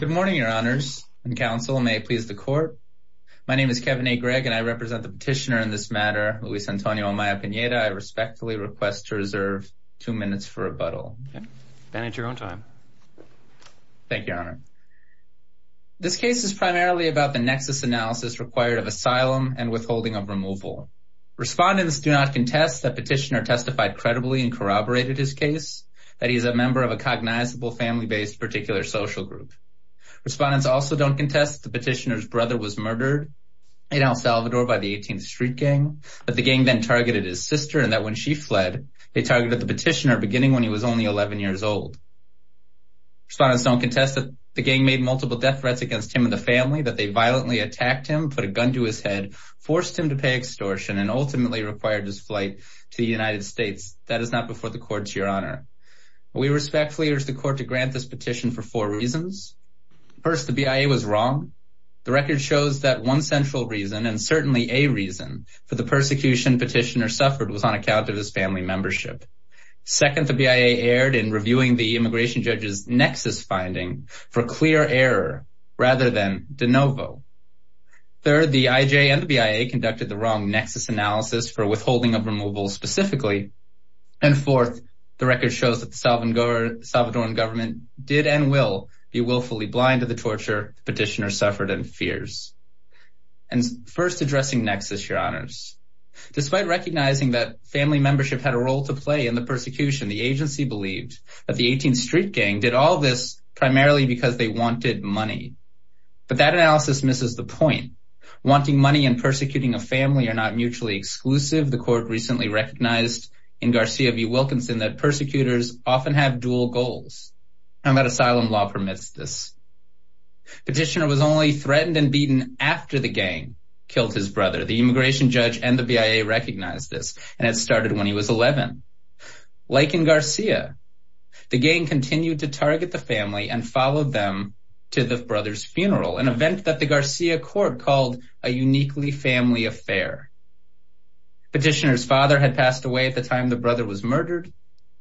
Good morning, your honors and counsel. May it please the court. My name is Kevin A. Gregg and I represent the petitioner in this matter, Luis Antonio Amaya-Pineda. I respectfully request to reserve two minutes for rebuttal. Manage your own time. Thank you, your honor. This case is primarily about the nexus analysis required of asylum and withholding of removal. Respondents do not contest that petitioner testified credibly and corroborated his case, that he is a member of a cognizable family-based particular social group. Respondents also don't contest the petitioner's brother was murdered in El Salvador by the 18th Street Gang, that the gang then targeted his sister and that when she fled, they targeted the petitioner beginning when he was only 11 years old. Respondents don't contest that the gang made multiple death threats against him and the family, that they violently attacked him, put a gun to his head, forced him to pay extortion, and ultimately required his flight to the United States. That is not before the court, your honor. We respectfully urge the court to grant this petition for four reasons. First, the BIA was wrong. The record shows that one central reason and certainly a reason for the persecution petitioner suffered was on account of his family membership. Second, the BIA erred in reviewing the immigration judge's nexus finding for clear error rather than de novo. Third, the IJ and the BIA conducted the wrong nexus analysis for withholding of removal specifically. And fourth, the record shows that the Salvadoran government did and will be willfully blind to the torture petitioner suffered and fears. And first, addressing nexus, your honors. Despite recognizing that family membership had a role to play in the persecution, the agency believed that the 18th Street Gang did all this primarily because they wanted money. But that analysis misses the point. Wanting money and persecuting a family are not mutually exclusive. The court recently recognized in Garcia v. Wilkinson that persecutors often have dual goals, and that asylum law permits this. Petitioner was only threatened and beaten after the gang killed his brother. The immigration judge and the BIA recognized this, and it started when he was 11. Like in Garcia, the gang continued to target the family and followed them to the brother's funeral, an event that the Garcia court called a uniquely family affair. Petitioner's father had passed away at the time the brother was murdered.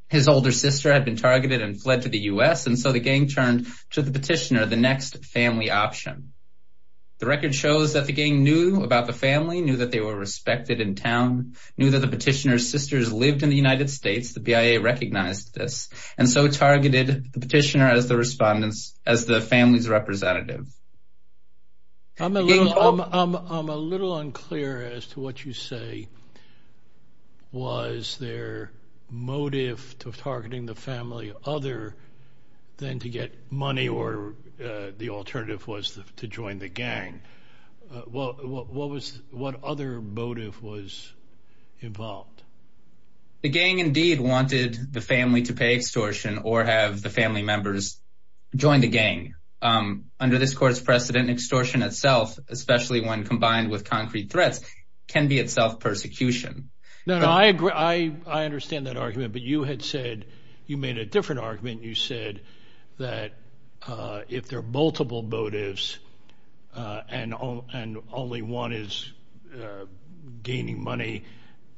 His older sister had been targeted and fled to the U.S., and so the gang turned to the petitioner, the next family option. The record shows that the gang knew about the family, knew that they were respected in town, knew that the petitioner's sisters lived in the United States, the BIA recognized this, and so targeted the petitioner as the family's representative. I'm a little unclear as to what you say was their motive to targeting the family other than to get money or the alternative was to join the gang. What other motive was involved? The gang indeed wanted the family to pay extortion or have the family members join the gang. Under this court's precedent, extortion itself, especially when combined with concrete threats, can be itself persecution. No, I agree. I understand that argument, but you had said you made a different argument. You said that if there are multiple motives and only one is gaining money,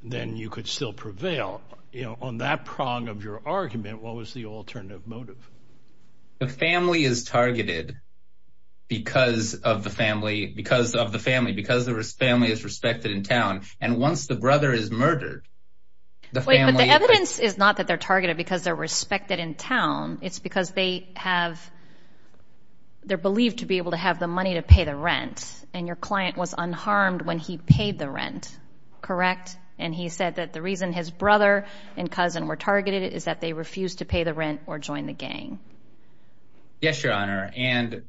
then you could still prevail. You know, on that prong of your argument, what was the alternative motive? The family is targeted because of the family, because of the family, because the family is respected in town, and once the brother is murdered, the family... Wait, but the evidence is not that they're targeted because they're respected in town. It's because they have, they're believed to be able to have the money to pay the rent, and your client was unharmed when he paid the rent, correct? And he said that the reason his pay the rent or join the gang. Yes, Your Honor, and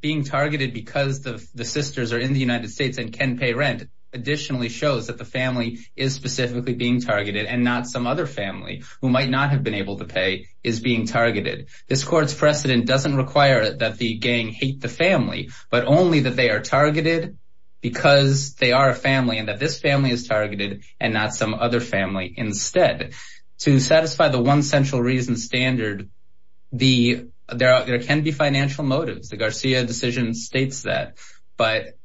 being targeted because the sisters are in the United States and can pay rent additionally shows that the family is specifically being targeted and not some other family who might not have been able to pay is being targeted. This court's precedent doesn't require that the gang hate the family, but only that they are targeted because they are a family and that this family is targeted and not some other family instead. To satisfy the one central reason standard, there can be financial motives. The Garcia decision states that, but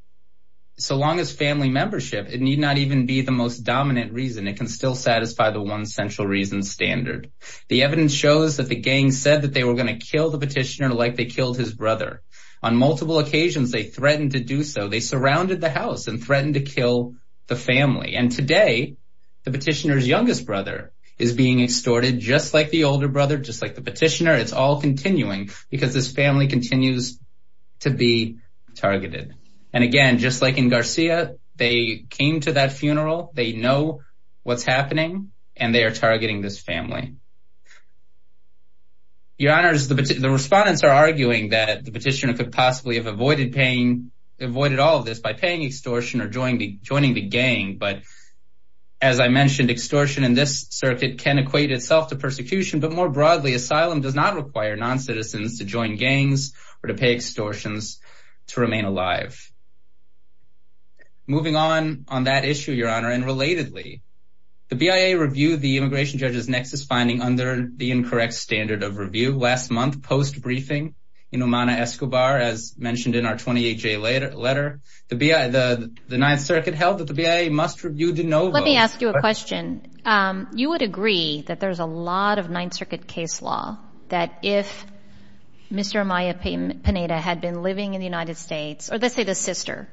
so long as family membership, it need not even be the most dominant reason. It can still satisfy the one central reason standard. The evidence shows that the gang said that they were going to kill the petitioner like they killed his brother. On multiple occasions, they threatened to do so. They surrounded the house and threatened to kill the family. And today, the petitioner's youngest brother is being extorted just like the older brother, just like the petitioner. It's all continuing because this family continues to be targeted. And again, just like in Garcia, they came to that funeral. They know what's happening and they are targeting this family. Your Honor, the respondents are arguing that the petitioner possibly avoided all of this by paying extortion or joining the gang. But as I mentioned, extortion in this circuit can equate itself to persecution. But more broadly, asylum does not require non-citizens to join gangs or to pay extortions to remain alive. Moving on that issue, Your Honor, and relatedly, the BIA reviewed the immigration judge's nexus finding under the incorrect standard of review last month post-briefing in Omana Escobar, as mentioned in our 28-J letter. The Ninth Circuit held that the BIA must review de novo. Let me ask you a question. You would agree that there's a lot of Ninth Circuit case law that if Mr. Amaya Pineda had been living in the United States, or let's say the sister,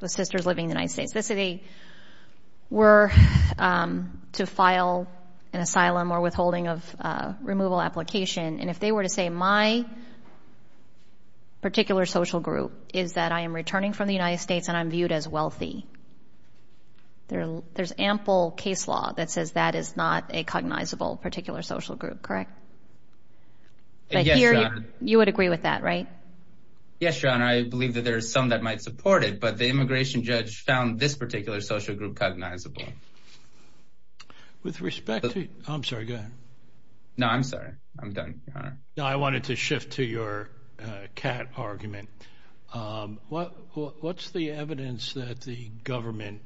the sisters living in the United States, the city were to file an asylum or withholding of removal application, and if they were to say my particular social group is that I am returning from the United States and I'm viewed as wealthy, there's ample case law that says that is not a cognizable particular social group, correct? Yes, Your Honor. You would agree with that, right? Yes, Your Honor. I believe that there's some might support it, but the immigration judge found this particular social group cognizable. With respect to... I'm sorry, go ahead. No, I'm sorry. I'm done, Your Honor. I wanted to shift to your cat argument. What's the evidence that the government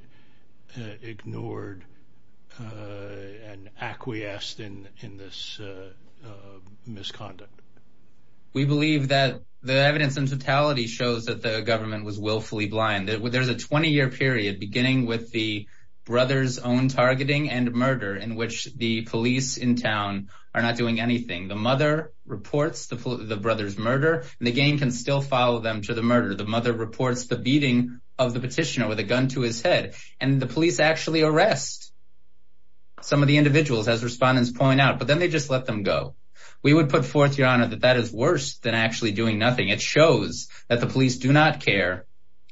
ignored and acquiesced in this misconduct? We believe that the evidence in totality shows that the government was willfully blind. There's a 20-year period beginning with the brother's own targeting and murder in which the police in town are not doing anything. The mother reports the brother's murder, and the gang can still follow them to the murder. The mother reports the beating of the petitioner with a gun to his head, and the police actually arrest some of the individuals, as respondents point out, but then they just let them go. We would put forth, Your Honor, that that is worse than actually doing nothing. It shows the police do not care,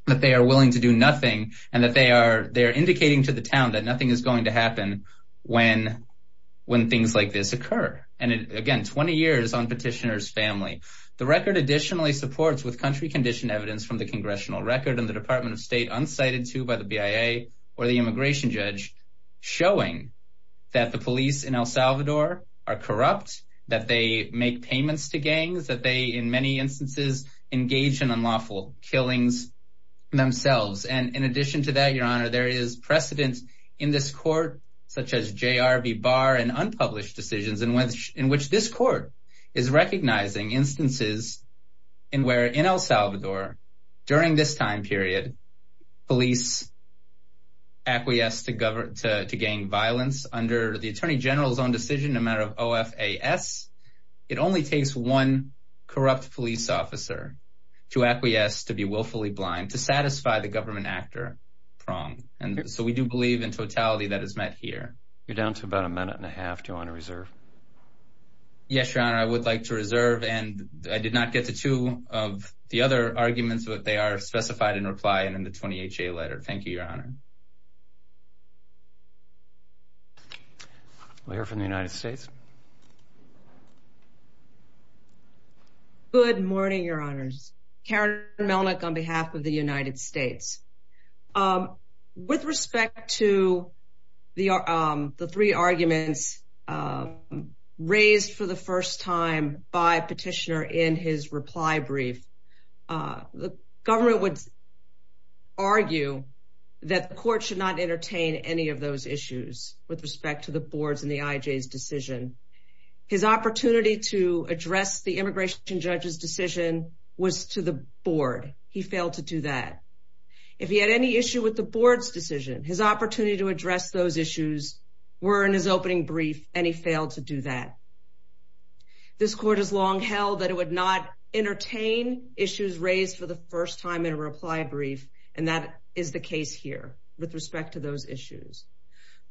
that they are willing to do nothing, and that they are indicating to the town that nothing is going to happen when things like this occur. Again, 20 years on petitioner's family. The record additionally supports with country-conditioned evidence from the congressional record and the Department of State unsighted to by the BIA or the immigration judge showing that the police in El Salvador are corrupt, that they make payments to gangs, that they, in many instances, engage in unlawful killings themselves. In addition to that, Your Honor, there is precedent in this court, such as J.R.B. Barr and unpublished decisions in which this court is recognizing instances where, in El Salvador, during this time period, police acquiesce to gang violence under the Attorney General's own decision, a matter of OFAS. It only takes one corrupt police officer to acquiesce, to be willfully blind, to satisfy the government actor wrong, and so we do believe in totality that is met here. You're down to about a minute and a half. Do you want to reserve? Yes, Your Honor, I would like to reserve, and I did not get to two of the other arguments, but they are specified in reply and in the 20HA letter. Thank you, Your Honor. We'll hear from the United States. Good morning, Your Honors. Karen Melnick, on behalf of the United States. With respect to the three arguments raised for the first time by Petitioner in his reply brief, the government would argue that the court should not entertain any of those issues with respect to the board's and the IJ's decision. His opportunity to address the immigration judge's decision was to the board. He failed to do that. If he had any issue with the board's decision, his opportunity to address those issues were in his opening brief, and he failed to do that. This court has long held that it would not entertain issues raised for the first time in a reply brief, and that is the case here with respect to those issues.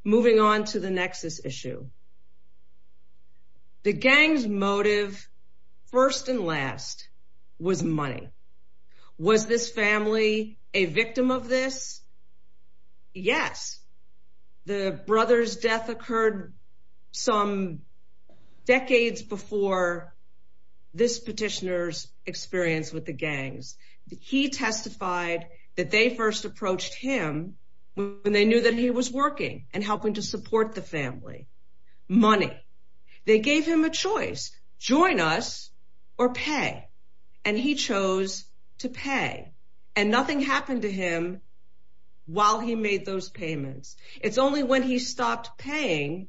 Moving on to the nexus issue. The gang's motive, first and last, was money. Was this family a victim of this? Yes. The brother's death occurred some decades before this petitioner's experience with the support of the family. Money. They gave him a choice, join us or pay, and he chose to pay. Nothing happened to him while he made those payments. It's only when he stopped paying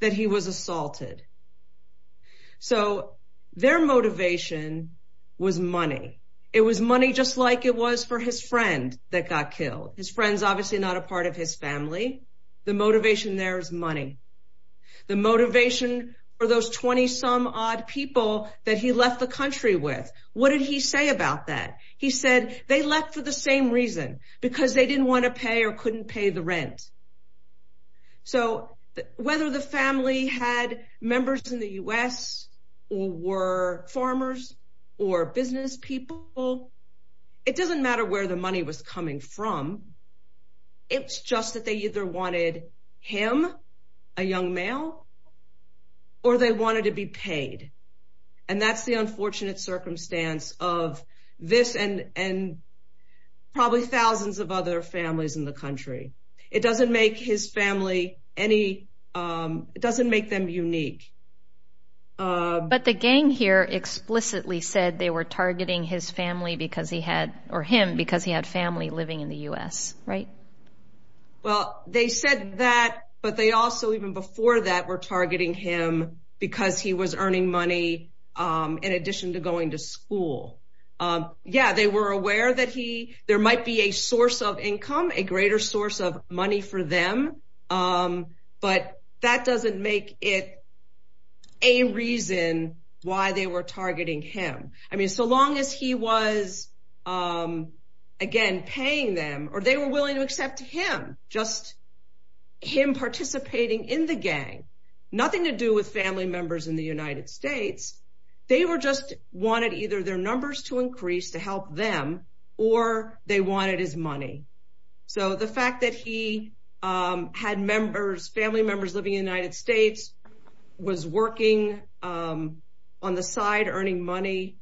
that he was assaulted. Their motivation was money. It was money just like it was for his friend that got killed. His friend's obviously not a part of his family. The motivation there is money. The motivation for those 20 some odd people that he left the country with, what did he say about that? He said they left for the same reason, because they didn't want to pay or couldn't pay the rent. So whether the family had members in the U.S. or were farmers or business people, it doesn't matter where the money was coming from. It's just that they either wanted him, a young male, or they wanted to be paid. And that's the unfortunate circumstance of this and probably thousands of other families in the country. It doesn't make his family any, it doesn't make them unique. But the gang here explicitly said they were targeting because he had family living in the U.S., right? Well, they said that, but they also even before that were targeting him because he was earning money in addition to going to school. Yeah, they were aware that there might be a source of income, a greater source of money for them. Um, but that doesn't make it a reason why they were targeting him. I mean, so long as he was, um, again, paying them or they were willing to accept him, just him participating in the gang, nothing to do with family members in the United States. They were just wanted either their numbers to increase to help them or they wanted his money. So the fact that he, um, had members, family members living in the United States was working, um, on the side earning money,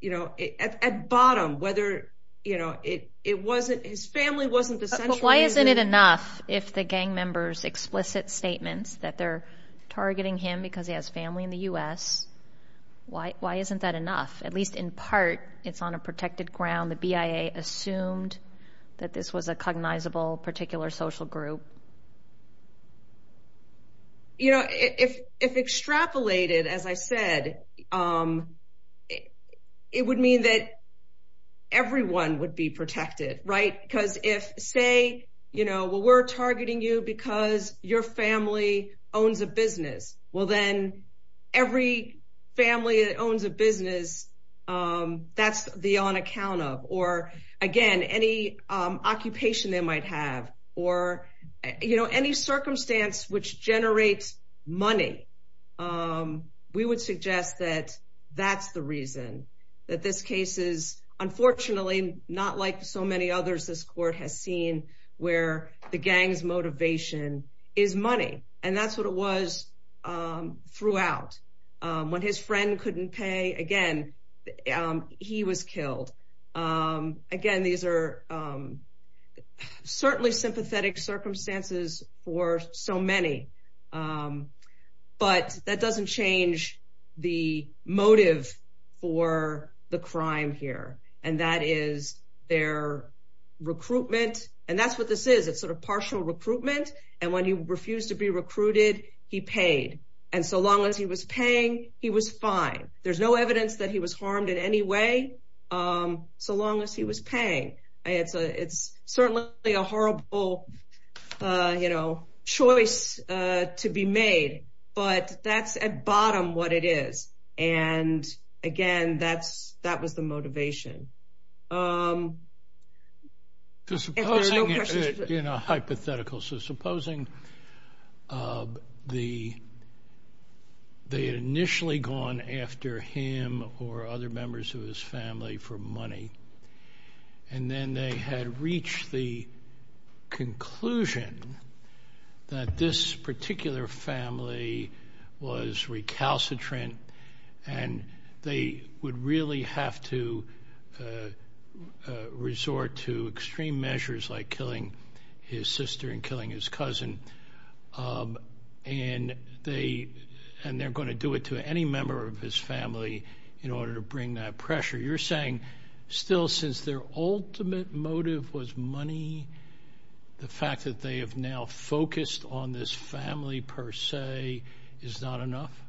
you know, at bottom, whether, you know, it, it wasn't, his family wasn't essential. Why isn't it enough if the gang members explicit statements that they're targeting him because he family in the U.S.? Why, why isn't that enough? At least in part, it's on a protected ground. The BIA assumed that this was a cognizable particular social group. You know, if, if extrapolated, as I said, um, it would mean that everyone would be protected, right? Because if say, you know, well, we're targeting you because your family owns a business. Well, then every family that owns a business, um, that's the on account of, or again, any, um, occupation they might have or, you know, any circumstance which generates money. Um, we would suggest that that's the reason that this case is unfortunately not like so many others this court has seen where the gang's motivation is money. And that's what it was, um, throughout, when his friend couldn't pay again, um, he was killed. Um, again, these are, um, certainly sympathetic circumstances for so many. Um, but that doesn't change the motive for the crime here. And that is their recruitment. And that's what this is. It's sort of partial recruitment. And when he refused to be recruited, he paid. And so long as he was paying, he was fine. There's no evidence that he was harmed in any way. Um, so long as he was paying, it's a, it's certainly a horrible, uh, you know, choice, uh, to be made, but that's at bottom what it is. And again, that's, that was the motivation. Um, you know, hypothetical. So supposing, um, the, they initially gone after him or other members of his family for money, and then they had reached the conclusion that this particular family was recalcitrant and they would really have to, uh, uh, resort to extreme measures like killing his sister and killing his cousin. Um, and they, and they're going to do it to any member of his family in order to bring that pressure. You're saying still, since their ultimate motive was is not enough.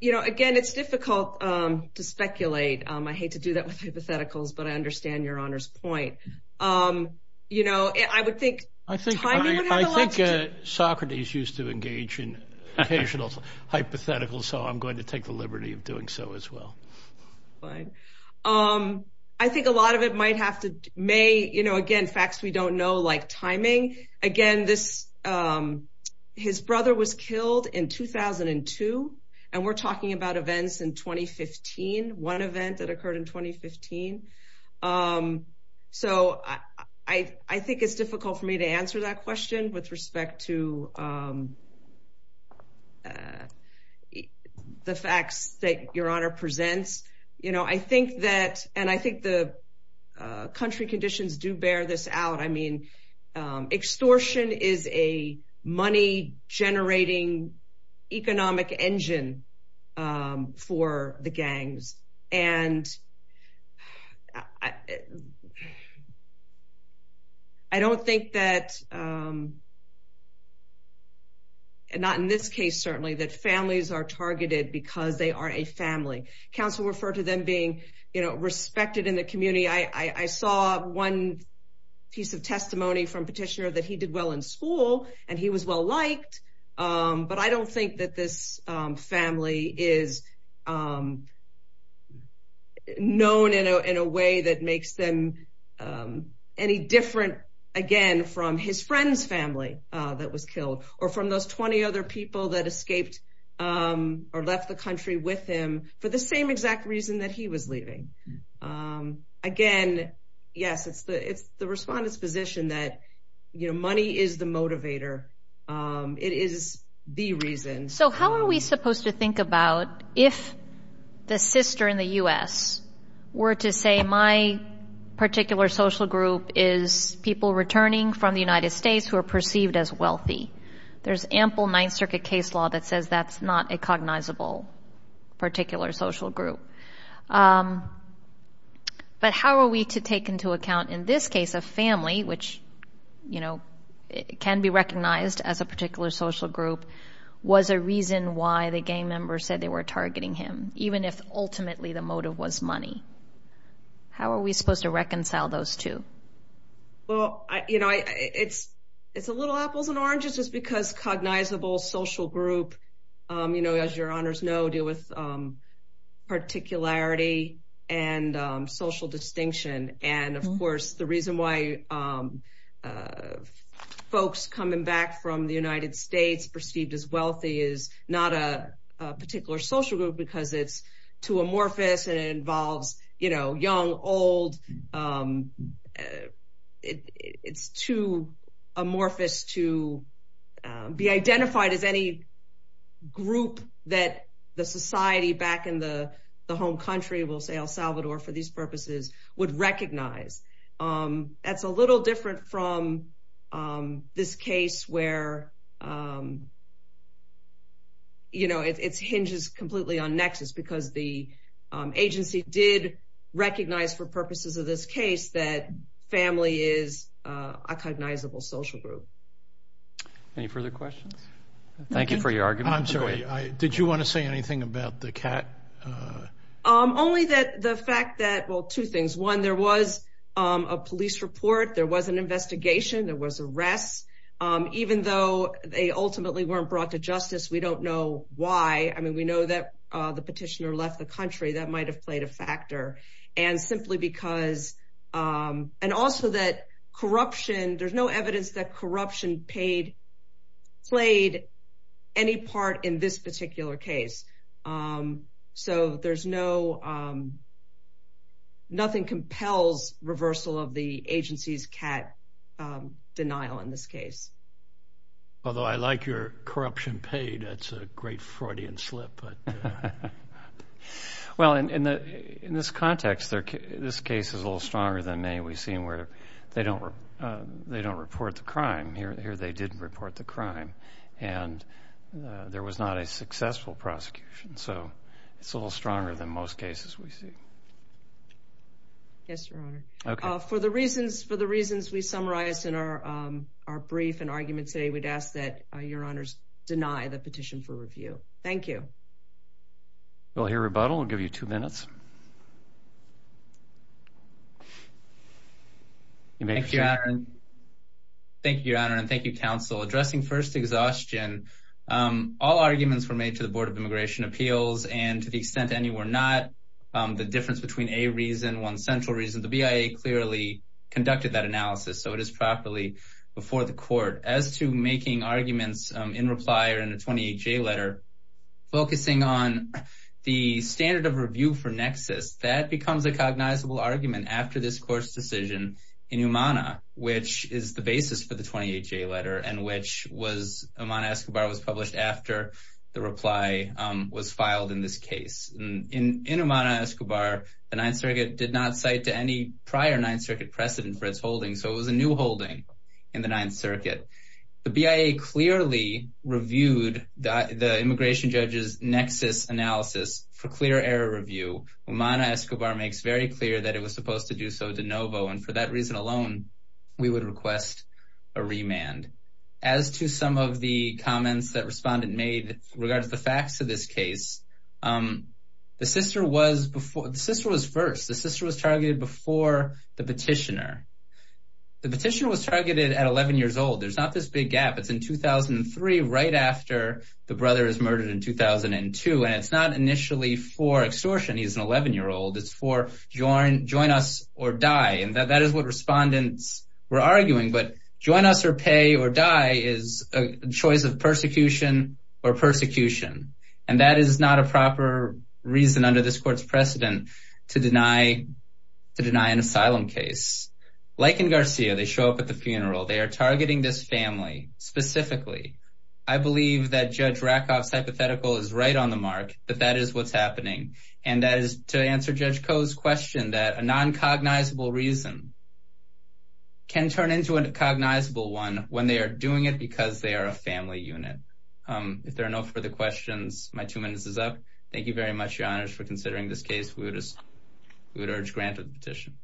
You know, again, it's difficult, um, to speculate. Um, I hate to do that with hypotheticals, but I understand your honor's point. Um, you know, I would think, I think, Socrates used to engage in occasional hypothetical. So I'm going to take the liberty of doing so as well. Fine. Um, I think a lot of it might have to may, you know, again, facts we don't know, timing again, this, um, his brother was killed in 2002 and we're talking about events in 2015, one event that occurred in 2015. Um, so I think it's difficult for me to answer that question with respect to, um, uh, the facts that your honor presents. You know, I think that, and I think the country conditions do bear this out. I mean, um, extortion is a money generating economic engine, um, for the gangs. And I, I don't think that, um, not in this case, certainly that families are targeted because they are a family. Council referred to them being, you know, respected in the community. I, I, I saw one piece of testimony from petitioner that he did well in school and he was well liked. Um, but I don't think that this, um, family is, um, known in a, in a way that makes them, um, any different again from his friend's family, uh, that was killed or from those 20 other people that escaped, um, or left the country with him for the same exact reason that he was leaving. Um, again, yes, it's the, it's the respondent's position that, you know, money is the motivator. Um, it is the reason. So how are we supposed to think about if the sister in the U.S. were to say, my particular social group is people returning from the United States who are perceived as wealthy. There's ample Ninth Circuit case law that says that's not a cognizable particular social group. Um, but how are we to take into account in this case of family, which, you know, can be recognized as a particular social group was a reason why the gang members said they were targeting him, even if ultimately the motive was money. How are we supposed to reconcile those two? Well, I, you know, I, it's, it's a little apples and oranges just because cognizable social group, um, you know, as your honors know, deal with, um, particularity and, um, social distinction. And of course the reason why, um, uh, folks coming back from the United States perceived as wealthy is not a particular social group because it's too amorphous and it involves, you know, young, old, um, uh, it it's too amorphous to, um, be identified as any group that the society back in the home country will say El Salvador for these purposes would recognize. Um, that's a little different from, um, this case where, um, you know, it's hinges completely on nexus because the, um, agency did recognize for purposes of this case that family is a cognizable social group. Any further questions? Thank you for your argument. I'm sorry. I, did you want to say anything about the cat? Um, only that the fact that, well, two things, one, there was, um, a police report, there was an investigation, there was arrests. Um, even though they ultimately weren't brought to justice, we don't know why. I mean, we know that, uh, the petitioner left the country that might've played a factor and simply because, um, and also that corruption, there's no evidence that corruption paid, played any part in this particular case. Um, so there's no, um, nothing compels reversal of the denial in this case. Although I like your corruption paid, that's a great Freudian slip. Well, in the, in this context, this case is a little stronger than many we've seen where they don't, uh, they don't report the crime here. Here they didn't report the crime and, uh, there was not a successful prosecution. So it's a little stronger than most cases we see. Yes, Your Honor. Okay. For the reasons, for the reasons we summarized in our, um, our brief and arguments today, we'd ask that, uh, Your Honor's deny the petition for review. Thank you. We'll hear rebuttal. I'll give you two minutes. Thank you, Your Honor. Thank you, Your Honor. And thank you, counsel. Addressing first exhaustion, um, all arguments were made to the Board of Immigration Appeals and to the extent any were not, um, the difference between a reason, one central reason, the BIA clearly conducted that analysis. So it is properly before the court as to making arguments in reply or in a 28-J letter focusing on the standard of review for nexus that becomes a cognizable argument after this court's decision in Umana, which is the basis for the 28-J letter and which was, Umana Escobar was published after the reply, um, was filed in this case. In, in Umana Escobar, the Ninth Circuit did not cite to any prior Ninth Circuit precedent for its holding. So it was a new holding in the Ninth Circuit. The BIA clearly reviewed the, the immigration judge's nexus analysis for clear error review. Umana Escobar makes very clear that it was supposed to do so and for that reason alone, we would request a remand. As to some of the comments that respondent made regards the facts of this case, um, the sister was before, the sister was first, the sister was targeted before the petitioner. The petitioner was targeted at 11 years old. There's not this big gap. It's in 2003, right after the brother is murdered in 2002. And it's not initially for extortion. He's an 11 year old. It's for join, join us or die. And that is what respondents were arguing, but join us or pay or die is a choice of persecution or persecution. And that is not a proper reason under this court's precedent to deny, to deny an asylum case. Like in Garcia, they show up at the funeral. They are targeting this family specifically. I believe that Judge Rackoff's hypothetical is right on the mark, but that is what's happening. And that is to answer Judge Koh's question that a non-cognizable reason can turn into a cognizable one when they are doing it because they are a family unit. Um, if there are no further questions, my two minutes is up. Thank you very much, Your Honors, for considering this case. We would just, we would urge granted petition.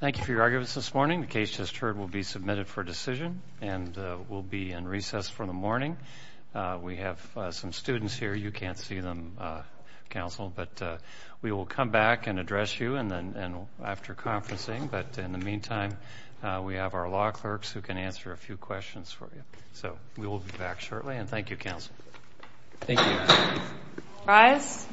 Thank you for your arguments this morning. The case just heard will be submitted for decision and will be in recess for the morning. We have some students here. You can't see them, Counsel, but we will come back and address you and then after conferencing. But in the meantime, we have our law clerks who can answer a few questions for you. So we will be back shortly and thank you, Counsel. Thank you. Rise.